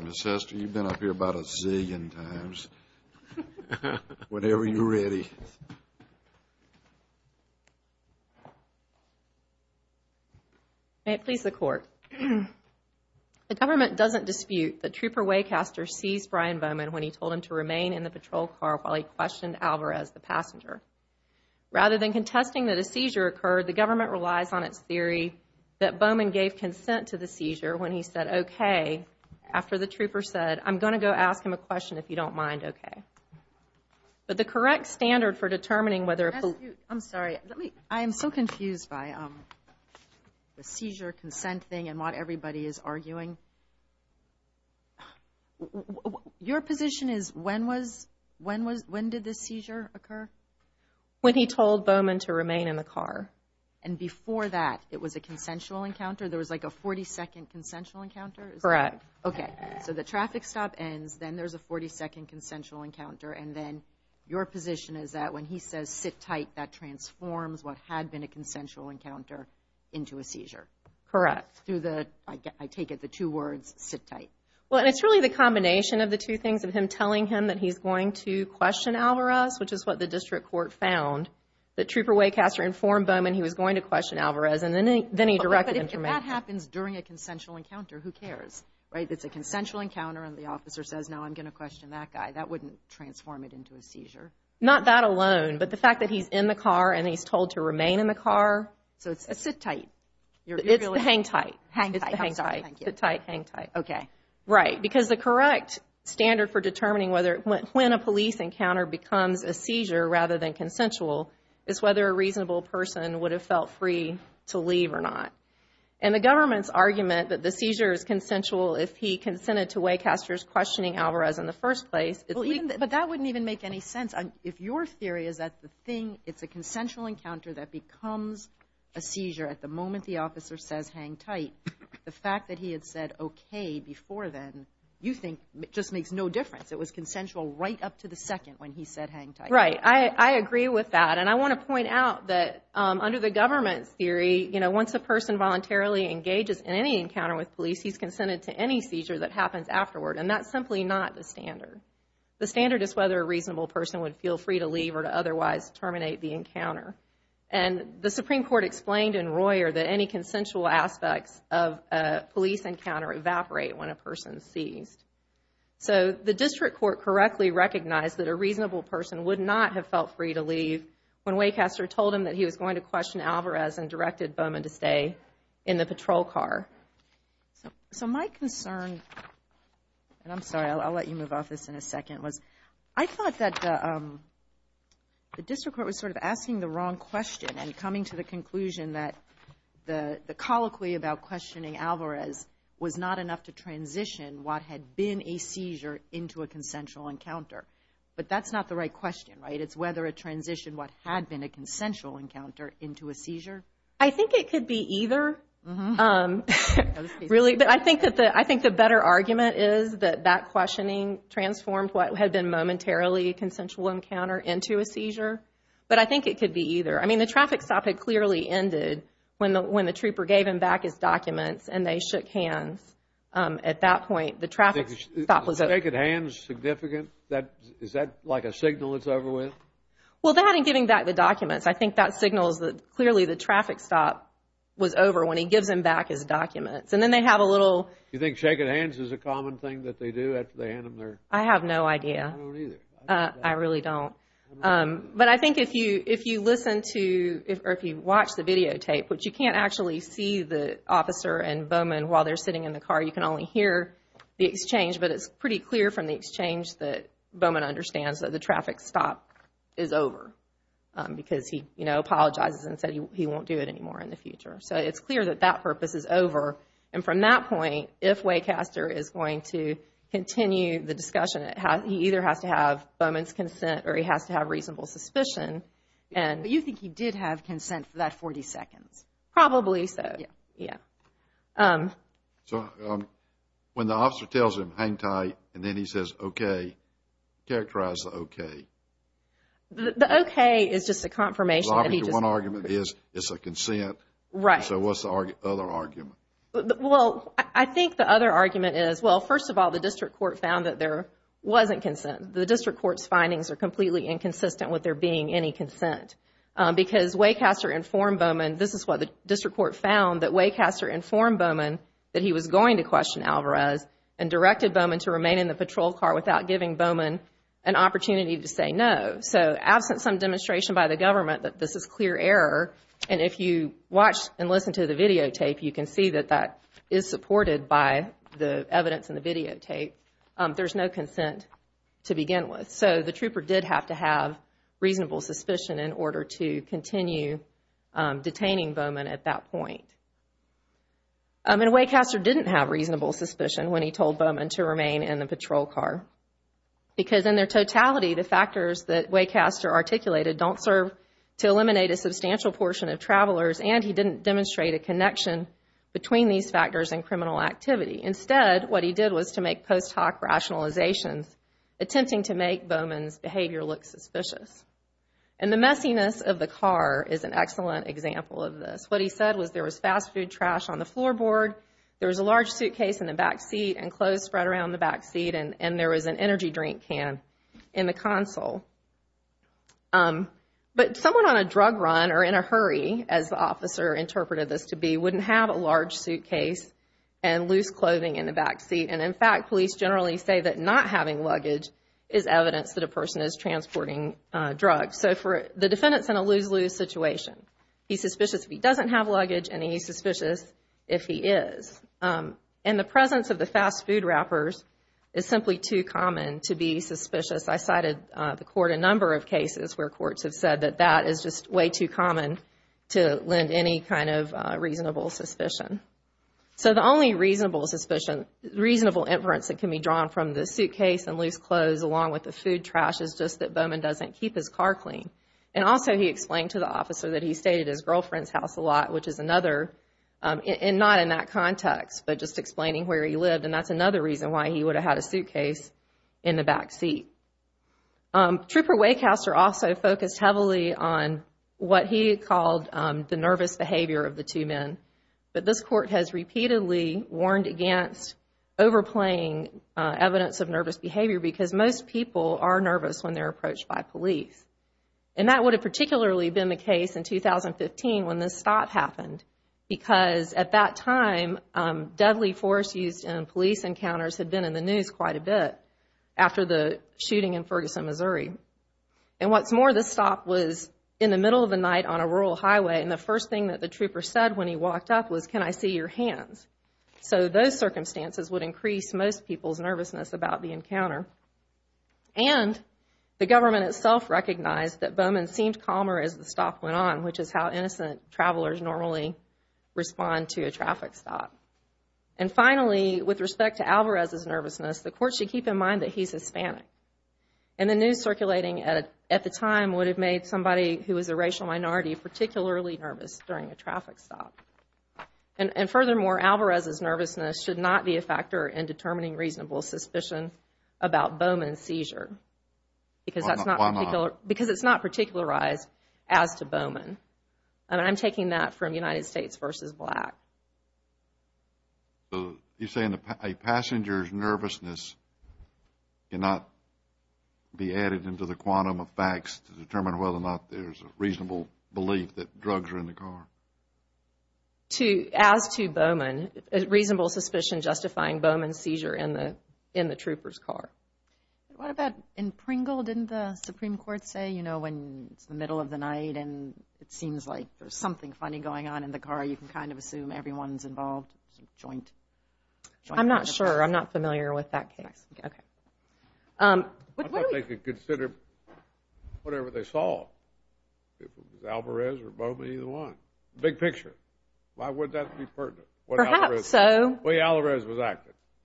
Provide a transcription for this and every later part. Ms. Hester, you've been up here about a zillion times. Whenever you're ready. May it please the Court. The government doesn't dispute that Trooper Waycaster seized Brian Bowman when he told him to remain in the patrol car while he questioned Alvarez, the passenger. Rather than contesting that the seizure occurred, the government relies on its theory that Bowman gave consent to the seizure when he said, OK, after the trooper said, I'm going to go ask him a question if you don't mind. OK. But the correct standard for determining whether I'm sorry. I am so confused by the seizure consent thing and what everybody is arguing. Your position is when was when was when did the seizure occur when he told Bowman to remain in the car? And before that, it was a consensual encounter. There was like a 40 second consensual encounter. Correct. OK. So the traffic stop ends. Then there's a 40 second consensual encounter. And then your position is that when he says sit tight, that transforms what had been a consensual encounter into a seizure. Correct. Through the I take it the two words sit tight. Well, it's really the combination of the two things of him telling him that he's going to question Alvarez, which is what the district court found. The trooper Waycaster informed Bowman he was going to question Alvarez and then he then he directed him. That happens during a consensual encounter. Who cares? Right. It's a consensual encounter. And the officer says, no, I'm going to question that guy. That wouldn't transform it into a seizure. Not that alone. But the fact that he's in the car and he's told to remain in the car. So it's a sit tight. It's the hang tight. Hang tight. Hang tight. Hang tight. OK. Right. Because the correct standard for determining whether when a police encounter becomes a seizure rather than consensual is whether a reasonable person would have felt free to leave or not. And the government's argument that the seizure is consensual if he consented to Waycaster's questioning Alvarez in the first place. But that wouldn't even make any sense if your theory is that the thing it's a consensual encounter that becomes a seizure at the moment the officer says hang tight. The fact that he had said OK before then, you think just makes no difference. It was consensual right up to the second when he said hang tight. Right. I agree with that. And I want to point out that under the government's theory, you know, once a person voluntarily engages in any encounter with police, he's consented to any seizure that would feel free to leave or to otherwise terminate the encounter. And the Supreme Court explained in Royer that any consensual aspects of a police encounter evaporate when a person is seized. So the district court correctly recognized that a reasonable person would not have felt free to leave when Waycaster told him that he was going to question Alvarez and directed Bowman to stay in the patrol car. So my concern and I'm sorry, I'll let you move off this in a second was I thought that the district court was sort of asking the wrong question and coming to the conclusion that the colloquy about questioning Alvarez was not enough to transition what had been a seizure into a consensual encounter. But that's not the right question. Right. It's whether a transition what had been a consensual encounter into a seizure. I think it could be either really. But I think that the I think the better argument is that that questioning transformed what had been momentarily a consensual encounter into a seizure. But I think it could be either. I mean, the traffic stop had clearly ended when the when the trooper gave him back his documents and they shook hands. At that point, the traffic stop was a naked hand. Significant that is that like a traffic stop was over when he gives him back his documents and then they have a little you think shaking hands is a common thing that they do at the end of their. I have no idea. I really don't. But I think if you if you listen to or if you watch the videotape, which you can't actually see the officer and Bowman while they're sitting in the car, you can only hear the exchange. But it's pretty clear from the exchange that Bowman understands that the So it's clear that that purpose is over. And from that point, if Waycaster is going to continue the discussion, he either has to have Bowman's consent or he has to have reasonable suspicion. And you think he did have consent for that 40 seconds? Probably so. Yeah. So when the officer tells him hang tight and then he says, OK, characterize the OK. The OK is just a confirmation. One argument is it's a consent. Right. So what's the other argument? Well, I think the other argument is, well, first of all, the district court found that there wasn't consent. The district court's findings are completely inconsistent with there being any consent because Waycaster informed Bowman. This is what the district court found, that Waycaster informed Bowman that he was going to question Alvarez and directed Bowman to remain in the patrol car without giving Bowman an opportunity to say no. So absent some demonstration by the government that this is clear error. And if you watch and listen to the videotape, you can see that that is supported by the evidence in the videotape. There's no consent to begin with. So the trooper did have to have reasonable suspicion in order to continue detaining Bowman at that point. I mean, Waycaster didn't have reasonable suspicion when he told Bowman to remain in the patrol car because in their totality, the factors that Waycaster articulated don't serve to eliminate a substantial portion of travelers. And he didn't demonstrate a connection between these factors and criminal activity. Instead, what he did was to make post hoc rationalizations attempting to make Bowman's behavior look suspicious. And the messiness of the car is an excellent example of this. What he said was there was fast food trash on the floorboard. There was a large suitcase in the backseat and clothes spread around the backseat. And there was an energy drink can in the console. But someone on a drug run or in a hurry, as the officer interpreted this to be, wouldn't have a large suitcase and loose clothing in the backseat. And in fact, police generally say that not having luggage is evidence that a person is transporting drugs. So the defendant's in a lose-lose situation. He's suspicious if he doesn't have luggage and he's suspicious if he is. And the presence of the fast food wrappers is simply too common to be suspicious. I cited the court a number of cases where courts have said that that is just way too common to lend any kind of reasonable suspicion. So the only reasonable inference that can be drawn from the suitcase and loose clothes along with the food trash is just that Bowman doesn't keep his car clean. And also he explained to the officer that he stayed at his girlfriend's house a lot, which is another, not in that context, but just explaining where he lived. And that's another reason why he would have had a suitcase in the backseat. Trooper Waycaster also focused heavily on what he called the nervous behavior of the two men. But this court has repeatedly warned against overplaying evidence of nervous behavior because most people are nervous when they're approached by police. And that would have particularly been the case in 2015 when this stop happened. Because at that time, deadly force used in police encounters had been in the news quite a bit after the shooting in rural highway. And the first thing that the trooper said when he walked up was, can I see your hands? So those circumstances would increase most people's nervousness about the encounter. And the government itself recognized that Bowman seemed calmer as the stop went on, which is how innocent travelers normally respond to a traffic stop. And finally, with respect to Alvarez's nervousness, the court should keep in mind that he's Hispanic. And the news circulating at the time would have made somebody who was a racial minority particularly nervous during a traffic stop. And furthermore, Alvarez's nervousness should not be a factor in determining reasonable suspicion about Bowman's seizure. Because it's not particularized as to Bowman. And I'm taking that from United States v. Black. So you're saying a passenger's nervousness cannot be added into the quantum of facts to determine whether or not there's a reasonable belief that drugs are in the car? As to Bowman, reasonable suspicion justifying Bowman's seizure in the trooper's car. What about in Pringle, didn't the Supreme Court say, you know, when it's the middle of the night and it seems like there's something funny going on in the car, you can kind of assume everyone's involved? I'm not sure. I'm not familiar with that case. I thought they could consider whatever they saw, if it was Alvarez or Bowman, either one. Big picture. Why would that be pertinent?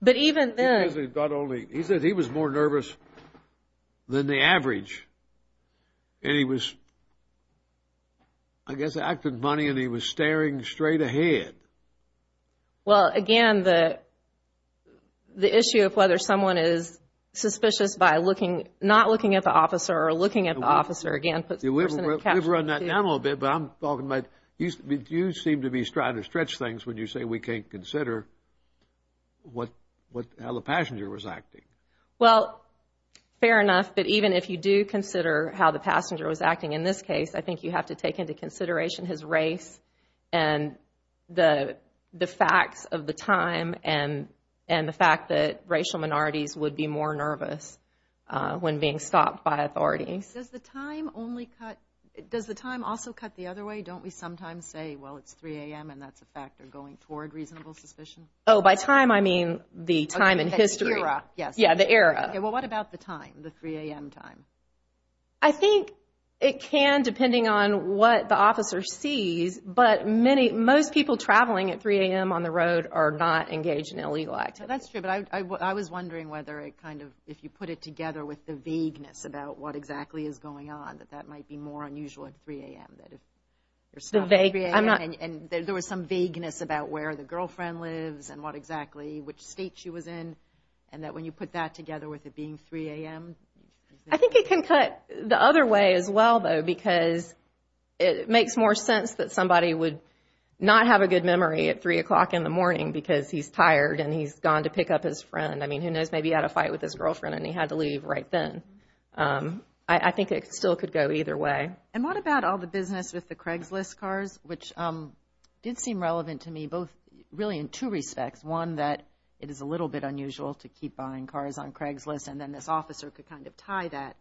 But even then. He said he was more nervous than the average. And he was, I guess, acting funny and he was staring straight ahead. Well, again, the issue of whether someone is suspicious by not looking at the officer or looking at the officer, again, puts the person in a caption. You seem to be trying to stretch things when you say we can't consider how the passenger's acting. Well, fair enough. But even if you do consider how the passenger was acting in this case, I think you have to take into consideration his race and the facts of the time and the fact that racial minorities would be more nervous when being stopped by authorities. Does the time also cut the other way? Don't we sometimes say, well, it's 3 a.m. and that's a factor going toward reasonable suspicion? Oh, by time, I mean the time in history. Yeah, the era. Well, what about the time, the 3 a.m. time? I think it can, depending on what the officer sees. But most people traveling at 3 a.m. on the road are not engaged in illegal activity. That's true. But I was wondering whether it kind of, if you put it together with the vagueness about what exactly is going on, that that might be more unusual at 3 a.m. There was some vagueness about where the girlfriend lives and what exactly, which state she was in. And that when you put that together with it being 3 a.m. I think it can cut the other way as well, though, because it makes more sense that somebody would not have a good memory at 3 o'clock in the morning and gone to pick up his friend. I mean, who knows, maybe he had a fight with his girlfriend and he had to leave right then. I think it still could go either way. And what about all the business with the Craigslist cars, which did seem relevant to me, both really in two respects. One, that it is a little bit unusual to keep buying cars on Craigslist. And then this officer could kind of tie that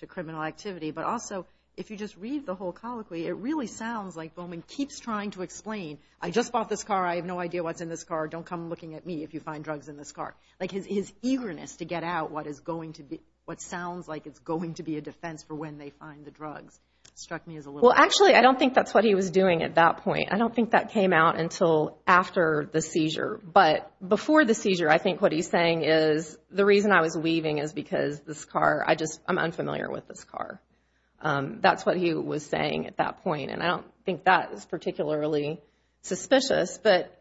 to criminal activity. But also, if you just read the whole colloquy, it really sounds like Bowman keeps trying to explain, I just bought this car. I have no idea what's in this car. Don't come looking at me if you find drugs in this car. Like, his eagerness to get out what is going to be, what sounds like it's going to be a defense for when they find the drugs struck me as a little Well, actually, I don't think that's what he was doing at that point. I don't think that came out until after the seizure. But before the seizure, I think what he's saying is the reason I was weaving is because this car, I just, I'm unfamiliar with this car. That's what he was saying at that point. And I don't think that is particularly suspicious. But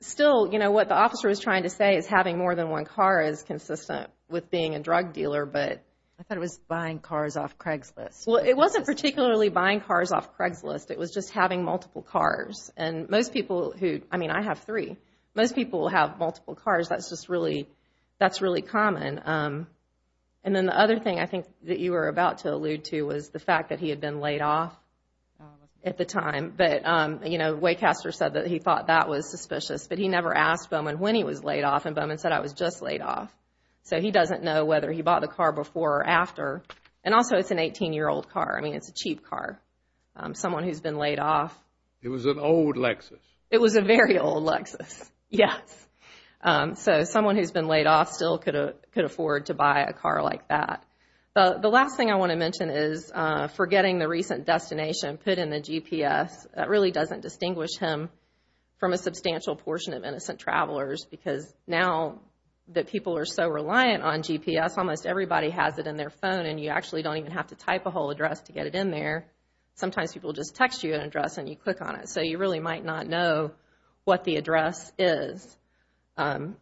still, you know, what the officer was trying to say is having more than one car is consistent with being a drug dealer. But I thought it was buying cars off Craigslist. Well, it wasn't particularly buying cars off Craigslist. It was just having multiple cars. And most people who, I mean, I have three, most people will have multiple cars. That's just really, that's really common. And then the other thing I think that you were about to allude to was the fact that he had been laid off at the time. But, you know, Waycaster said that he thought that was suspicious. But he never asked Bowman when he was laid off, and Bowman said, I was just laid off. So he doesn't know whether he bought the car before or after. And also, it's an 18-year-old car. I mean, it's a cheap car. Someone who's been laid off. It was an old Lexus. It was a very old Lexus, yes. So someone who's been laid off still could afford to buy a car like that. The last thing I want to mention is forgetting the recent destination put in the GPS. That really doesn't distinguish him from a substantial portion of innocent travelers, because now that people are so reliant on GPS, almost everybody has it in their phone, and you actually don't even have to type a whole address to get it in there. Sometimes people just text you an address and you click on it. So you really might not know what the address is. And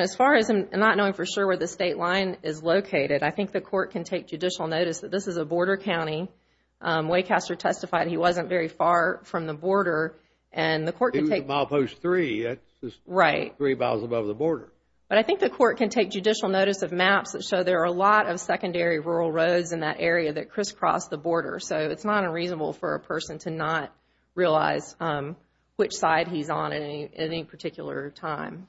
as far as not knowing for sure where the state line is located, I think the court can take judicial notice that this is a border county. Waycaster testified he wasn't very far from the border. It was a mile post three. That's just three miles above the border. But I think the court can take judicial notice of maps that show there are a lot of secondary rural roads in that area that crisscross the border. So it's not unreasonable for a person to not realize which side he's on at any particular time.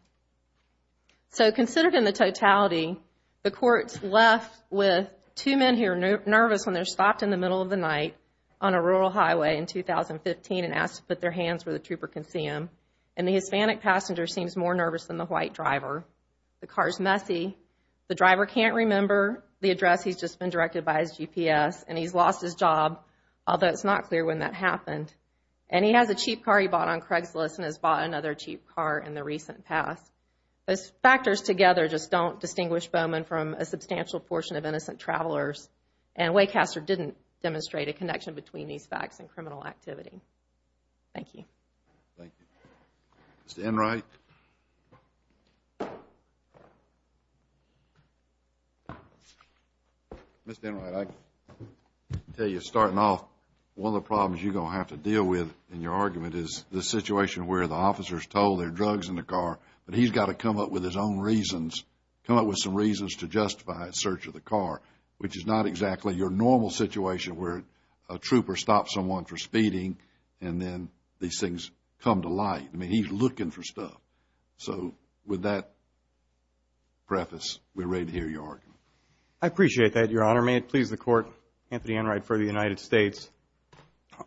So considered in the totality, the court's left with two men here nervous when they're stopped in the middle of the night on a rural highway in 2015 and asked to put their hands where the trooper can see them. And the Hispanic passenger seems more nervous than the white driver. The car's messy. The driver can't remember the address. He's just been directed by his GPS and he's lost his job, although it's not clear when that happened. And he has a cheap car he bought on Craigslist and has bought another cheap car in the recent past. Those factors together just don't distinguish Bowman from a substantial portion of innocent travelers. And Waycaster didn't demonstrate a connection between these facts and criminal activity. Thank you. Mr. Enright. Mr. Enright, I can tell you starting off, one of the problems you're going to have to deal with in your argument is the situation where the officer's told there are drugs in the car, but he's got to come up with his own reasons, come up with some reasons to justify his search of the car, which is not exactly your normal situation where a trooper stops someone for speeding and then these things come to light. I mean, he's looking for stuff. So with that preface, we're ready to hear your argument. I appreciate that, Your Honor. May it please the Court, Anthony Enright for the United States.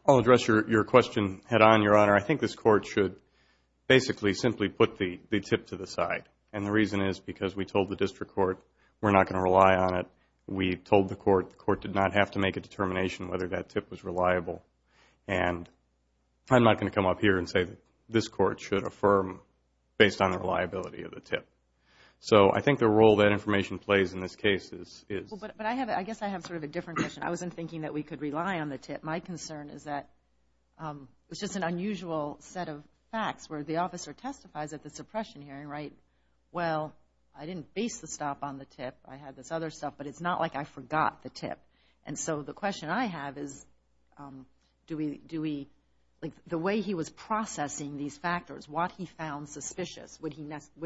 I'll address your question head on, Your Honor. I think this Court should basically simply put the tip to the side. And the reason is because we told the District Court we're not going to rely on it. We told the Court the Court did not have to make a determination whether that tip was reliable. And I'm not going to come up here and say this Court should affirm based on the reliability of the tip. So I think the role that information plays in this case is... But I guess I have sort of a different question. I wasn't thinking that we could rely on the tip. My concern is that it's just an unusual set of facts where the officer testifies at the suppression hearing, right? Well, I didn't base the stop on the tip. I had this other stuff, but it's not like I forgot the tip. And so the question I have is do we... The way he was processing these factors, what he found suspicious, would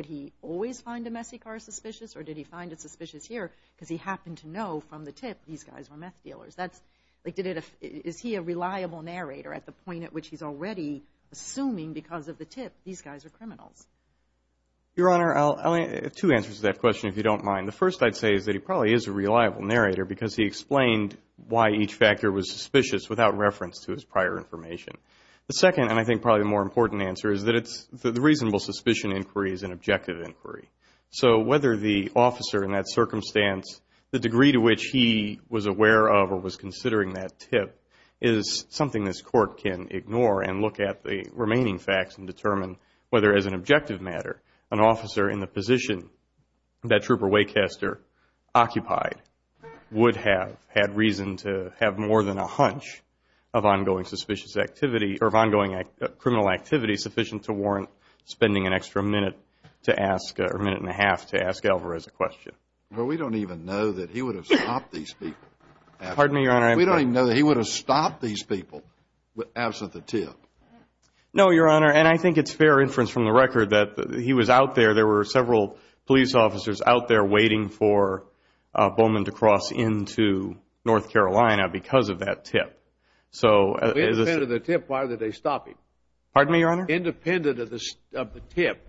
he always find a messy car suspicious? Or did he find it suspicious here because he happened to know from the tip these guys were meth dealers? Is he a reliable narrator at the point at which he's already assuming because of the tip these guys are criminals? Your Honor, I'll have two answers to that question if you don't mind. The first I'd say is that he probably is a reliable narrator because he explained why each factor was suspicious without reference to his prior information. The second, and I think probably the more important answer, is that the reasonable suspicion inquiry is an objective inquiry. So whether the officer in that circumstance, the degree to which he was aware of or was considering that tip, is something this Court can ignore and look at the remaining facts and determine whether, as an objective matter, an officer in the position that Trooper Waycaster occupied would have had reason to have more than a hunch of ongoing criminal activity would be sufficient to warrant spending an extra minute to ask, or minute and a half, to ask Alvarez a question. Well, we don't even know that he would have stopped these people. Pardon me, Your Honor. We don't even know that he would have stopped these people absent the tip. No, Your Honor, and I think it's fair inference from the record that he was out there. There were several police officers out there waiting for Bowman to cross into North Carolina because of that tip. Independent of the tip, why would they stop him? Pardon me, Your Honor? Independent of the tip,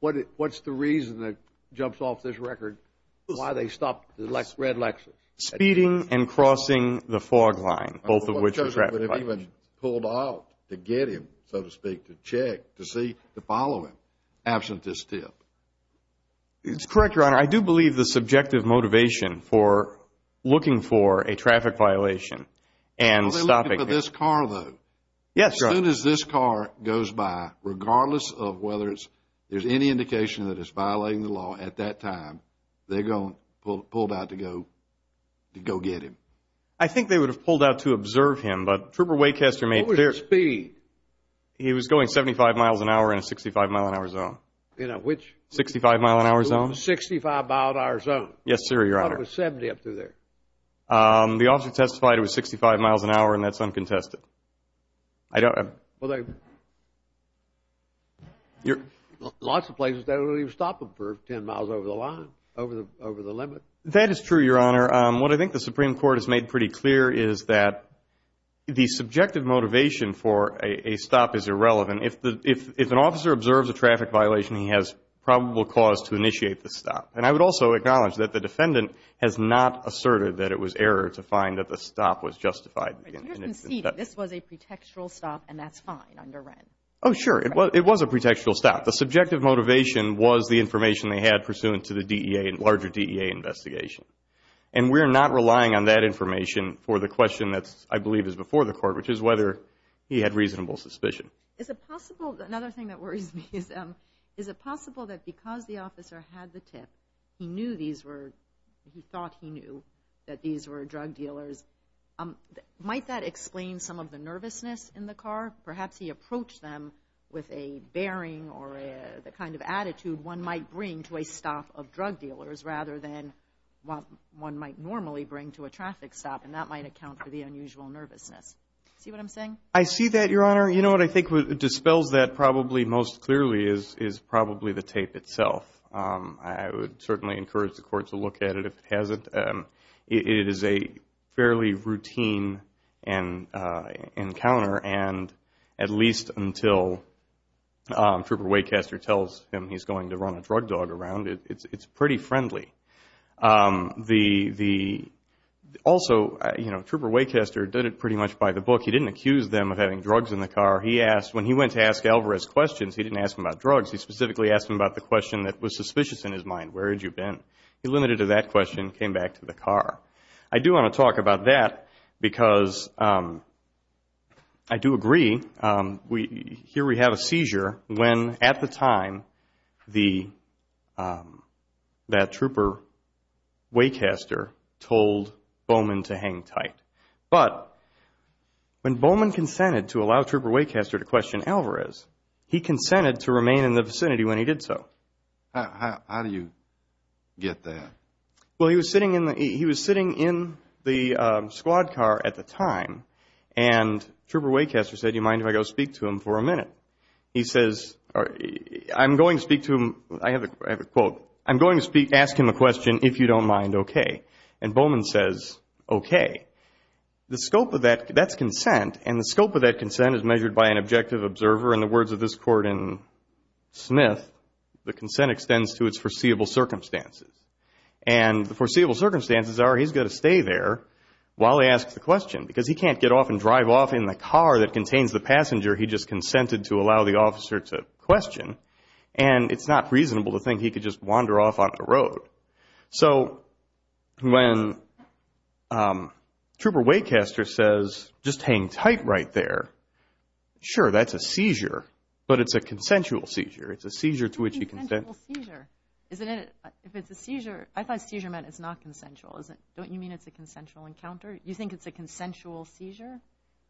what's the reason that jumps off this record, why they stopped the red Lexus? Speeding and crossing the fog line, both of which was ratified. Because they would have even pulled out to get him, so to speak, to check, to see, to follow him, absent this tip. It's correct, Your Honor. Your Honor, I do believe the subjective motivation for looking for a traffic violation and stopping... They're looking for this car, though. Yes, Your Honor. As soon as this car goes by, regardless of whether there's any indication that it's violating the law at that time, they're going to pull out to go get him. I think they would have pulled out to observe him, but Trooper Waycaster made clear... What was his speed? He was going 75 miles an hour in a 65 mile an hour zone. 65 mile an hour zone? Yes, sir, Your Honor. I thought it was 70 up through there. The officer testified it was 65 miles an hour, and that's uncontested. Lots of places, they don't even stop them for 10 miles over the line, over the limit. That is true, Your Honor. What I think the Supreme Court has made pretty clear is that the subjective motivation for a stop is irrelevant. If an officer observes a traffic violation, he has probable cause to initiate the stop. And I would also acknowledge that the defendant has not asserted that it was error to find that the stop was justified. You're conceding this was a pretextual stop and that's fine under Wren. Oh, sure. It was a pretextual stop. The subjective motivation was the information they had pursuant to the DEA, larger DEA investigation. And we're not relying on that information for the question that I believe is before the Court, which is whether he had reasonable suspicion. Is it possible, another thing that worries me, is it possible that because the officer had the tip, he knew these were, he thought he knew that these were drug dealers. Might that explain some of the nervousness in the car? Perhaps he approached them with a bearing or the kind of attitude one might bring to a stop of drug dealers rather than what one might normally bring to a traffic stop, and that might account for the unusual nervousness. See what I'm saying? I see that, Your Honor. You know what I think dispels that probably most clearly is probably the tape itself. I would certainly encourage the Court to look at it if it hasn't. It is a fairly routine encounter, and at least until Trooper Waycaster tells him he's going to run a drug dog around, it's pretty friendly. Also, you know, Trooper Waycaster did it pretty much by the book. He didn't accuse them of having drugs in the car. He asked, when he went to ask Alvarez questions, he didn't ask him about drugs. He specifically asked him about the question that was suspicious in his mind, where had you been? He limited it to that question and came back to the car. I do want to talk about that because I do agree. Here we have a seizure when, at the time, that Trooper Waycaster told Bowman to hang tight. But when Bowman consented to allow Trooper Waycaster to question Alvarez, he consented to remain in the vicinity when he did so. How do you get that? Well, he was sitting in the squad car at the time, and Trooper Waycaster said, do you mind if I go speak to him for a minute? He says, I'm going to speak to him, I have a quote, I'm going to ask him a question, if you don't mind, okay. And Bowman says, okay. That's consent, and the scope of that consent is measured by an objective observer. In the words of this court in Smith, the consent extends to its foreseeable circumstances. And the foreseeable circumstances are he's got to stay there while they ask the question because he can't get off and drive off in the car that contains the passenger he just consented to. He has to allow the officer to question, and it's not reasonable to think he could just wander off on the road. So when Trooper Waycaster says, just hang tight right there, sure, that's a seizure, but it's a consensual seizure. It's a seizure to which he consents. Consensual seizure, isn't it? If it's a seizure, I thought seizure meant it's not consensual. Don't you mean it's a consensual encounter? You think it's a consensual seizure?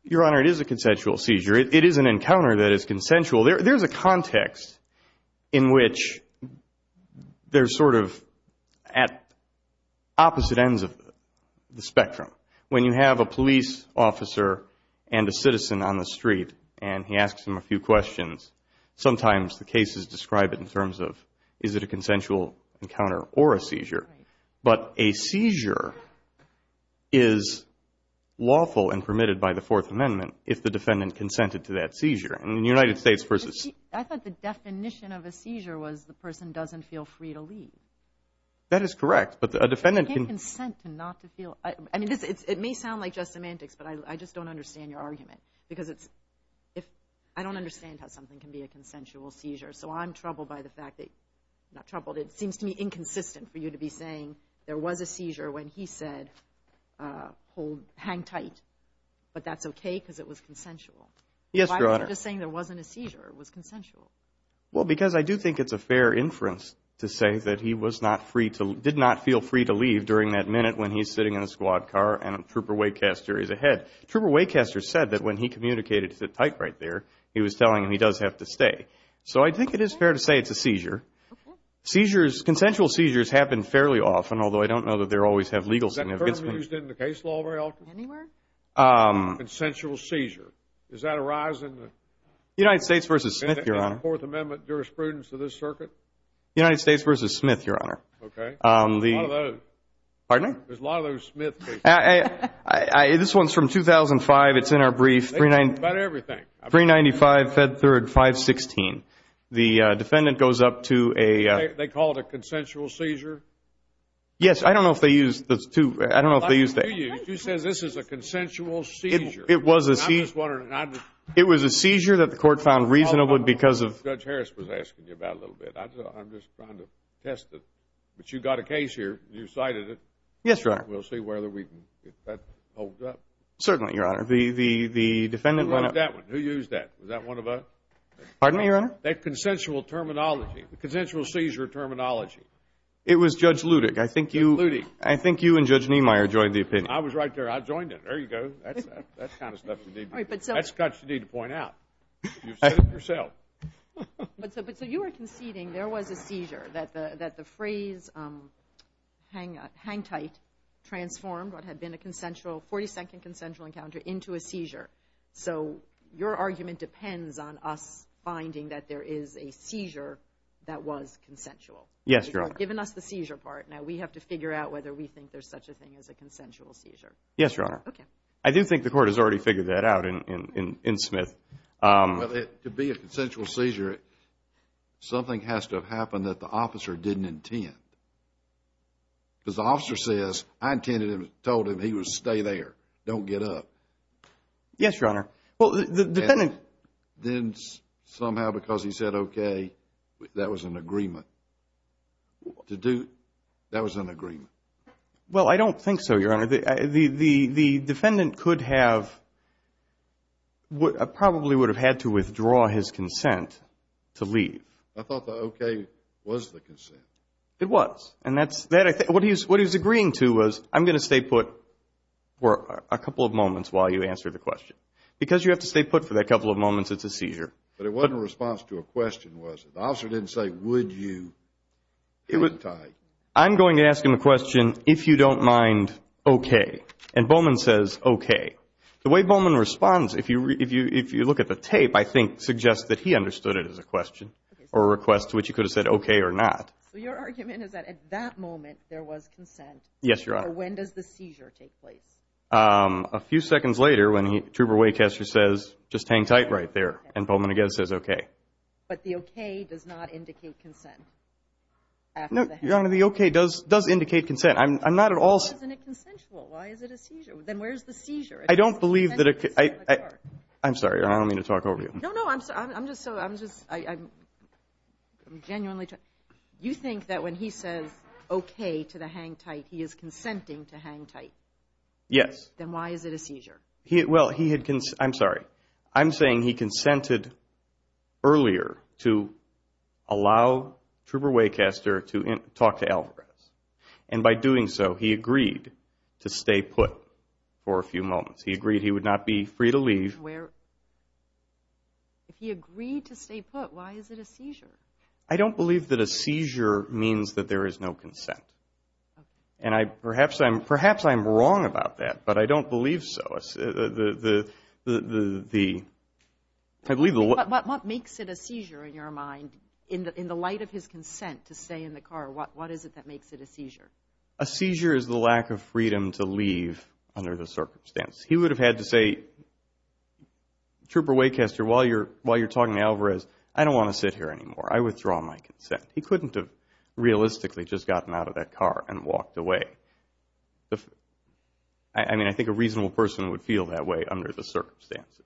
Your Honor, it is a consensual seizure. It is an encounter that is consensual. There's a context in which they're sort of at opposite ends of the spectrum. When you have a police officer and a citizen on the street and he asks them a few questions, sometimes the cases describe it in terms of, is it a consensual encounter or a seizure? But a seizure is lawful and permitted by the Fourth Amendment if the defendant consented to that seizure. I thought the definition of a seizure was the person doesn't feel free to leave. That is correct, but a defendant can... I can't consent not to feel... It may sound like just semantics, but I just don't understand your argument. I don't understand how something can be a consensual seizure, so I'm troubled by the fact that... Why was he saying there was a seizure when he said, hang tight, but that's okay because it was consensual? Yes, Your Honor. Why was he just saying there wasn't a seizure, it was consensual? Well, because I do think it's a fair inference to say that he was not free to... did not feel free to leave during that minute when he's sitting in a squad car and Trooper Waycaster is ahead. Trooper Waycaster said that when he communicated, sit tight right there, he was telling him he does have to stay. So I think it is fair to say it's a seizure. Consensual seizures happen fairly often, although I don't know that they always have legal significance. Is that term used in the case law very often? Consensual seizure, does that arise in the... United States v. Smith, Your Honor. In the Fourth Amendment jurisprudence of this circuit? United States v. Smith, Your Honor. There's a lot of those Smith cases. This one's from 2005, it's in our brief. About everything. 395, Fed Third, 516. The defendant goes up to a... They call it a consensual seizure? Yes, I don't know if they use the... He says this is a consensual seizure. It was a seizure that the court found reasonable because of... Judge Harris was asking you about it a little bit. I'm just trying to test it. But you've got a case here, you cited it. Yes, Your Honor. We'll see whether we can get that hold up. Certainly, Your Honor. The defendant went up... Who wrote that one? Who used that? Was that one of a... Pardon me, Your Honor? That consensual terminology, the consensual seizure terminology. It was Judge Ludig. Judge Ludig. I think you and Judge Niemeyer joined the opinion. I was right there. I joined it. There you go. That's the kind of stuff you need to point out. You've said it yourself. But so you were conceding there was a seizure, that the phrase hang tight transformed what had been a 40-second consensual encounter into a seizure. So your argument depends on us finding that there is a seizure that was consensual. Yes, Your Honor. You've given us the seizure part. Now we have to figure out whether we think there's such a thing as a consensual seizure. Yes, Your Honor. Okay. I do think the court has already figured that out in Smith. Well, to be a consensual seizure, something has to have happened that the officer didn't intend. Because the officer says, I intended to have told him he would stay there, don't get up. Yes, Your Honor. Well, the defendant... Then somehow because he said okay, that was an agreement. To do... That was an agreement. Well, I don't think so, Your Honor. The defendant could have, probably would have had to withdraw his consent to leave. I thought the okay was the consent. It was. And what he was agreeing to was, I'm going to stay put for a couple of moments while you answer the question. Because you have to stay put for that couple of moments, it's a seizure. But it wasn't a response to a question, was it? The officer didn't say, would you hang tight? I'm going to ask him a question, if you don't mind, okay. And Bowman says okay. The way Bowman responds, if you look at the tape, I think suggests that he understood it as a question or a request, which he could have said okay or not. So your argument is that at that moment there was consent? Yes, Your Honor. Or when does the seizure take place? A few seconds later when Trooper Waycaster says, just hang tight right there. And Bowman again says okay. But the okay does not indicate consent. No, Your Honor, the okay does indicate consent. I'm not at all. Why isn't it consensual? Why is it a seizure? Then where's the seizure? I don't believe that it could. I'm sorry, I don't mean to talk over you. No, no, I'm just so, I'm just, I'm genuinely. You think that when he says okay to the hang tight, he is consenting to hang tight? Yes. Then why is it a seizure? Well, he had, I'm sorry. I'm saying he consented earlier to allow Trooper Waycaster to talk to Alvarez. And by doing so, he agreed to stay put for a few moments. He agreed he would not be free to leave. If he agreed to stay put, why is it a seizure? I don't believe that a seizure means that there is no consent. And perhaps I'm wrong about that, but I don't believe so. Yes, the, I believe the. What makes it a seizure in your mind in the light of his consent to stay in the car? What is it that makes it a seizure? A seizure is the lack of freedom to leave under the circumstance. He would have had to say, Trooper Waycaster, while you're talking to Alvarez, I don't want to sit here anymore. I withdraw my consent. He couldn't have realistically just gotten out of that car and walked away. I mean, I think a reasonable person would feel that way under the circumstances.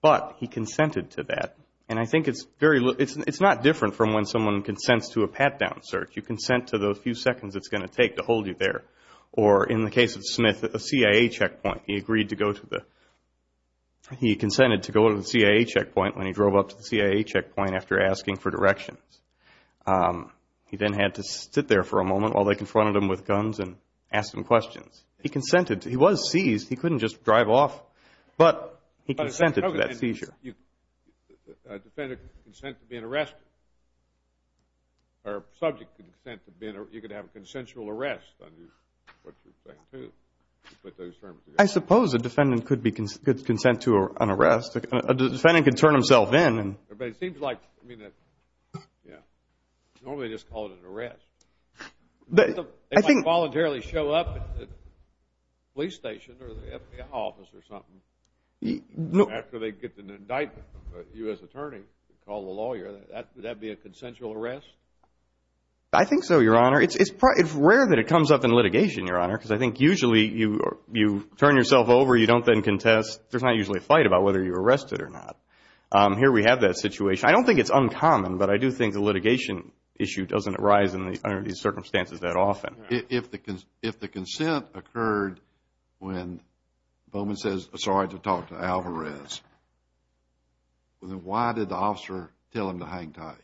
But he consented to that, and I think it's very, it's not different from when someone consents to a pat-down search. You consent to those few seconds it's going to take to hold you there. Or in the case of Smith, a CIA checkpoint, he agreed to go to the, he consented to go to the CIA checkpoint when he drove up to the CIA checkpoint after asking for directions. He then had to sit there for a moment while they confronted him with guns and asked him questions. He consented. He was seized. He couldn't just drive off. But he consented to that seizure. A defendant can consent to being arrested. Or a subject can consent to being, you could have a consensual arrest under what you're saying too. I suppose a defendant could consent to an arrest. A defendant can turn himself in. But it seems like, I mean, normally they just call it an arrest. They might voluntarily show up at the police station or the FBI office or something. After they get an indictment, a U.S. attorney can call a lawyer. Would that be a consensual arrest? I think so, Your Honor. It's rare that it comes up in litigation, Your Honor, because I think usually you turn yourself over, you don't then contest. There's not usually a fight about whether you're arrested or not. Here we have that situation. I don't think it's uncommon, but I do think the litigation issue doesn't arise under these circumstances that often. If the consent occurred when Bowman says, sorry, I have to talk to Alvarez, then why did the officer tell him to hang tight?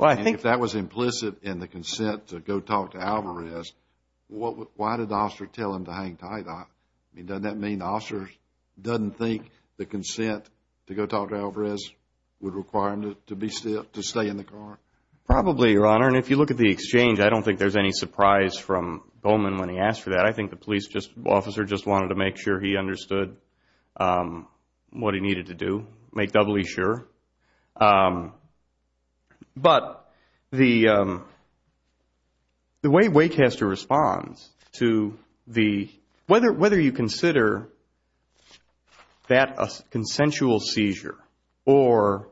If that was implicit in the consent to go talk to Alvarez, why did the officer tell him to hang tight? Doesn't that mean the officer doesn't think the consent to go talk to Alvarez would require him to stay in the car? Probably, Your Honor. And if you look at the exchange, I don't think there's any surprise from Bowman when he asked for that. I think the police officer just wanted to make sure he understood what he needed to do, make doubly sure. But the way Waycaster responds to whether you consider that a consensual seizure or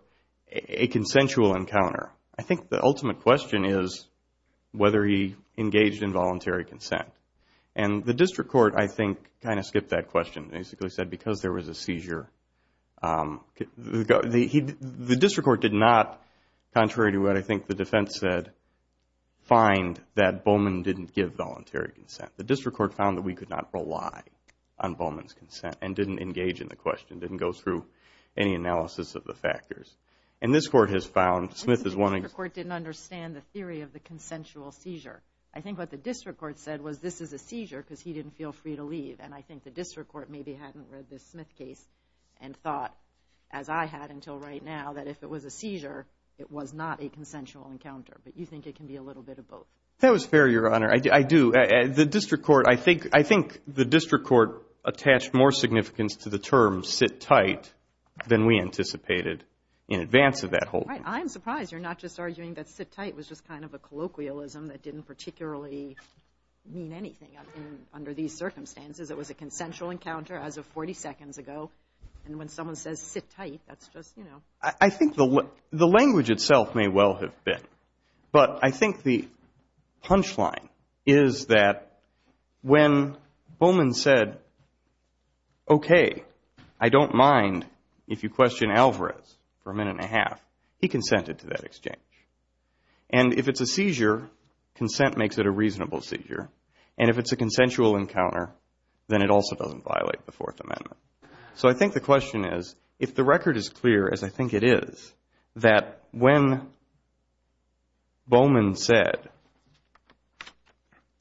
a consensual encounter, I think the ultimate question is whether he engaged in voluntary consent. And the district court, I think, kind of skipped that question, basically said because there was a seizure. The district court did not, contrary to what I think the defense said, find that Bowman didn't give voluntary consent. The district court found that we could not rely on Bowman's consent and didn't engage in the question, didn't go through any analysis of the factors. And this court has found, Smith is one example. I think the district court didn't understand the theory of the consensual seizure. I think what the district court said was this is a seizure because he didn't feel free to leave. And I think the district court maybe hadn't read the Smith case and thought, as I had until right now, that if it was a seizure, it was not a consensual encounter. But you think it can be a little bit of both. That was fair, Your Honor. I do. The district court, I think the district court attached more significance to the term sit tight than we anticipated in advance of that whole thing. I'm surprised you're not just arguing that sit tight was just kind of a colloquialism that didn't particularly mean anything under these circumstances. It was a consensual encounter as of 40 seconds ago. And when someone says sit tight, that's just, you know. I think the language itself may well have been, but I think the punchline is that when Bowman said, okay, I don't mind if you question Alvarez for a minute and a half, he consented to that exchange. And if it's a seizure, consent makes it a reasonable seizure. And if it's a consensual encounter, then it also doesn't violate the Fourth Amendment. So I think the question is, if the record is clear, as I think it is, that when Bowman said,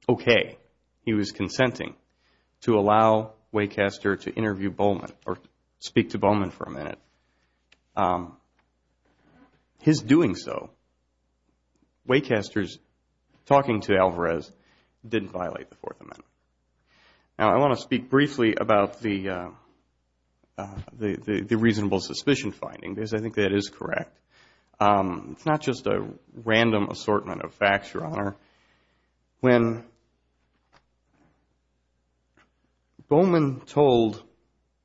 okay, he was consenting to allow Waycaster to interview Bowman or speak to Bowman for a minute, his doing so, Waycaster's talking to Alvarez didn't violate the Fourth Amendment. Now, I want to speak briefly about the reasonable suspicion finding, because I think that is correct. It's not just a random assortment of facts, Your Honor. When Bowman told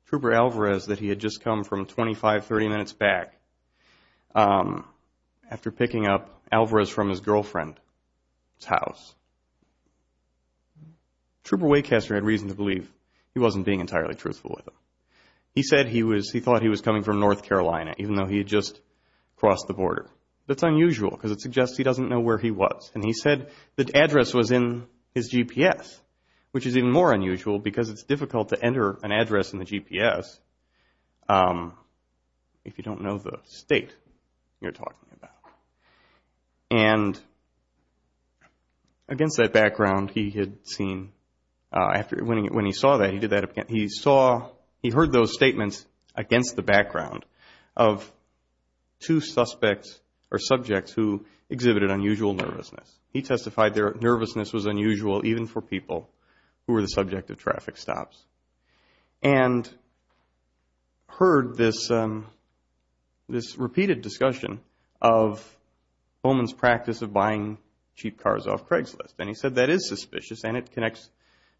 Trooper Alvarez that he had just come from 25, 30 minutes back after picking up Alvarez from his girlfriend's house, Trooper Waycaster had reason to believe he wasn't being entirely truthful with him. He said he thought he was coming from North Carolina, even though he had just crossed the border. That's unusual because it suggests he doesn't know where he was. And he said the address was in his GPS, which is even more unusual because it's difficult to enter an address in the GPS if you don't know the state you're talking about. And against that background, he had seen, when he saw that, he did that again. He saw, he heard those statements against the background of two suspects or subjects who exhibited unusual nervousness. He testified their nervousness was unusual even for people who were the subject of traffic stops. And heard this repeated discussion of Bowman's practice of buying cheap cars off Craigslist. And he said that is suspicious and it connects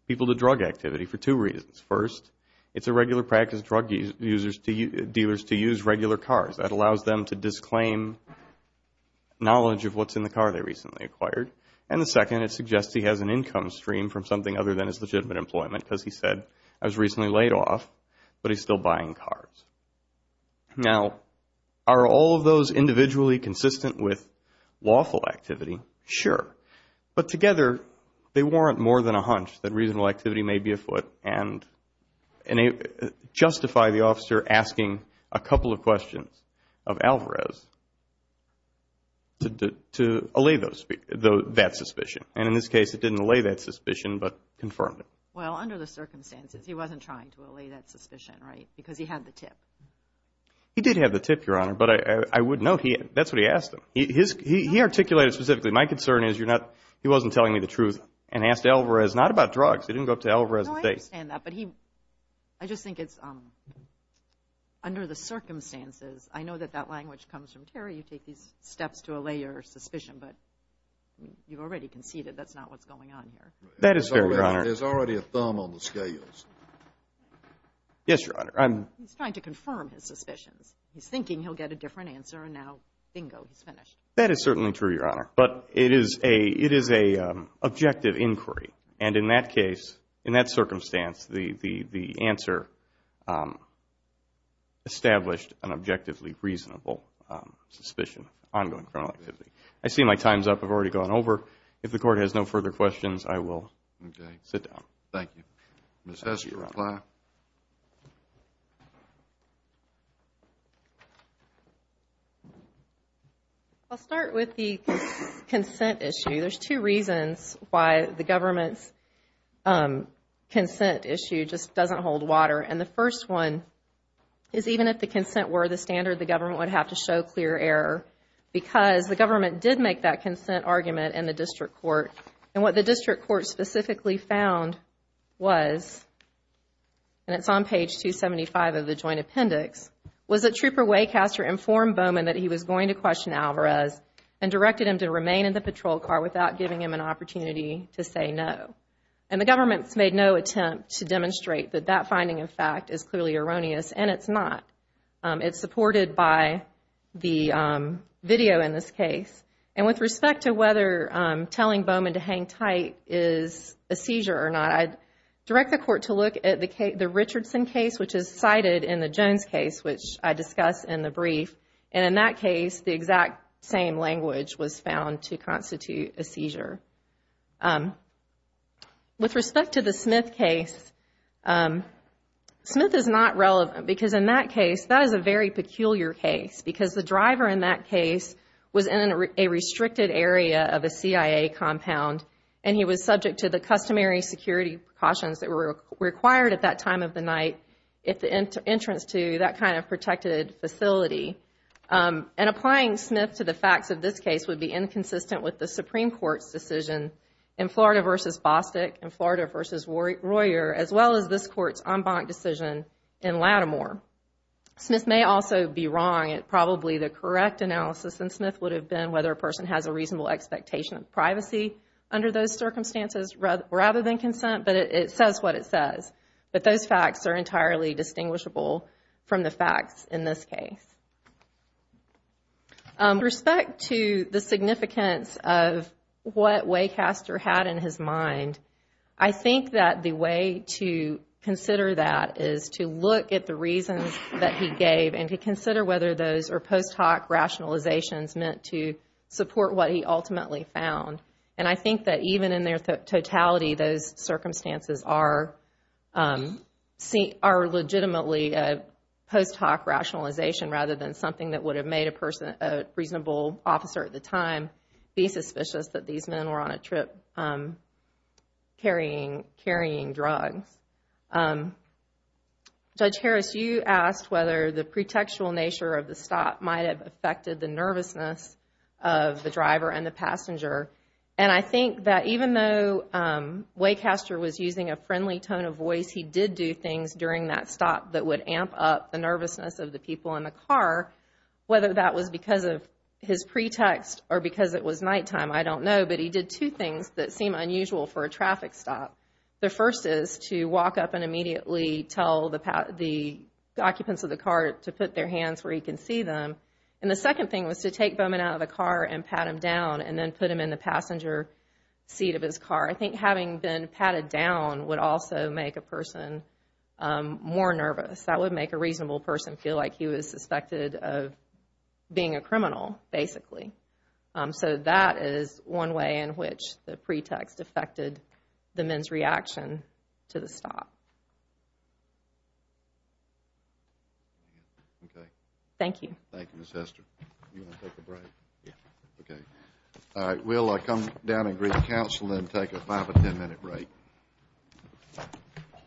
people to drug activity for two reasons. First, it's a regular practice of drug dealers to use regular cars. That allows them to disclaim knowledge of what's in the car they recently acquired. And the second, it suggests he has an income stream from something other than his legitimate employment because he said, I was recently laid off, but he's still buying cars. Now, are all of those individually consistent with lawful activity? Sure. But together, they warrant more than a hunch that reasonable activity may be afoot and justify the officer asking a couple of questions of Alvarez to allay that suspicion. And in this case, it didn't allay that suspicion but confirmed it. Well, under the circumstances, he wasn't trying to allay that suspicion, right? Because he had the tip. He did have the tip, Your Honor, but I would note that's what he asked him. He articulated specifically, my concern is you're not, he wasn't telling me the truth and asked Alvarez not about drugs. He didn't go up to Alvarez and say. No, I understand that, but he, I just think it's under the circumstances. I know that that language comes from Terry. You take these steps to allay your suspicion, but you already conceded that's not what's going on here. That is fair, Your Honor. There's already a thumb on the scales. Yes, Your Honor. He's trying to confirm his suspicions. He's thinking he'll get a different answer, and now, bingo, he's finished. That is certainly true, Your Honor. But it is an objective inquiry, and in that case, in that circumstance, the answer established an objectively reasonable suspicion, ongoing criminal activity. I see my time's up. I've already gone over. If the Court has no further questions, I will sit down. Okay. Thank you. Ms. Hess, your reply. I'll start with the consent issue. There's two reasons why the government's consent issue just doesn't hold water, and the first one is even if the consent were the standard, the government would have to show clear error because the government did make that consent argument in the district court, and what the district court specifically found was, and it's on page 275 of the joint appendix, was that Trooper Waycaster informed Bowman that he was going to question Alvarez and directed him to remain in the patrol car without giving him an opportunity to say no, and the government's made no attempt to demonstrate that that finding, in fact, is clearly erroneous, and it's not. It's supported by the video in this case, and with respect to whether telling Bowman to hang tight is a seizure or not, I'd direct the Court to look at the Richardson case, which is cited in the Jones case, which I discuss in the brief, and in that case, the exact same language was found to constitute a seizure. With respect to the Smith case, Smith is not relevant because in that case, that is a very peculiar case because the driver in that case was in a restricted area of a CIA compound, and he was subject to the customary security precautions that were required at that time of the night at the entrance to that kind of protected facility, and applying Smith to the facts of this case would be inconsistent with the Supreme Court's decision in Florida v. Bostick and Florida v. Royer, as well as this Court's en banc decision in Lattimore. Smith may also be wrong. Probably the correct analysis in Smith would have been whether a person has a reasonable expectation of privacy under those circumstances rather than consent, but it says what it says, but those facts are entirely distinguishable from the facts in this case. With respect to the significance of what Waycaster had in his mind, I think that the way to consider that is to look at the reasons that he gave and to consider whether those are post hoc rationalizations meant to support what he ultimately found, and I think that even in their totality, those circumstances are legitimately post hoc rationalization rather than something that would have made a reasonable officer at the time be suspicious that these men were on a trip carrying drugs. Judge Harris, you asked whether the pretextual nature of the stop might have affected the nervousness of the driver and the passenger, and I think that even though Waycaster was using a friendly tone of voice, he did do things during that stop that would amp up the nervousness of the people in the car, whether that was because of his pretext or because it was nighttime, I don't know, but he did two things that seem unusual for a traffic stop. The first is to walk up and immediately tell the occupants of the car to put their hands where he can see them, and the second thing was to take Bowman out of the car and pat him down and then put him in the passenger seat of his car. I think having been patted down would also make a person more nervous. That would make a reasonable person feel like he was suspected of being a criminal, basically. So that is one way in which the pretext affected the men's reaction to the stop. Okay. Thank you. Thank you, Ms. Hester. Do you want to take a break? Yeah. Okay. All right. Will, I come down and greet the council and then take a five- or ten-minute break.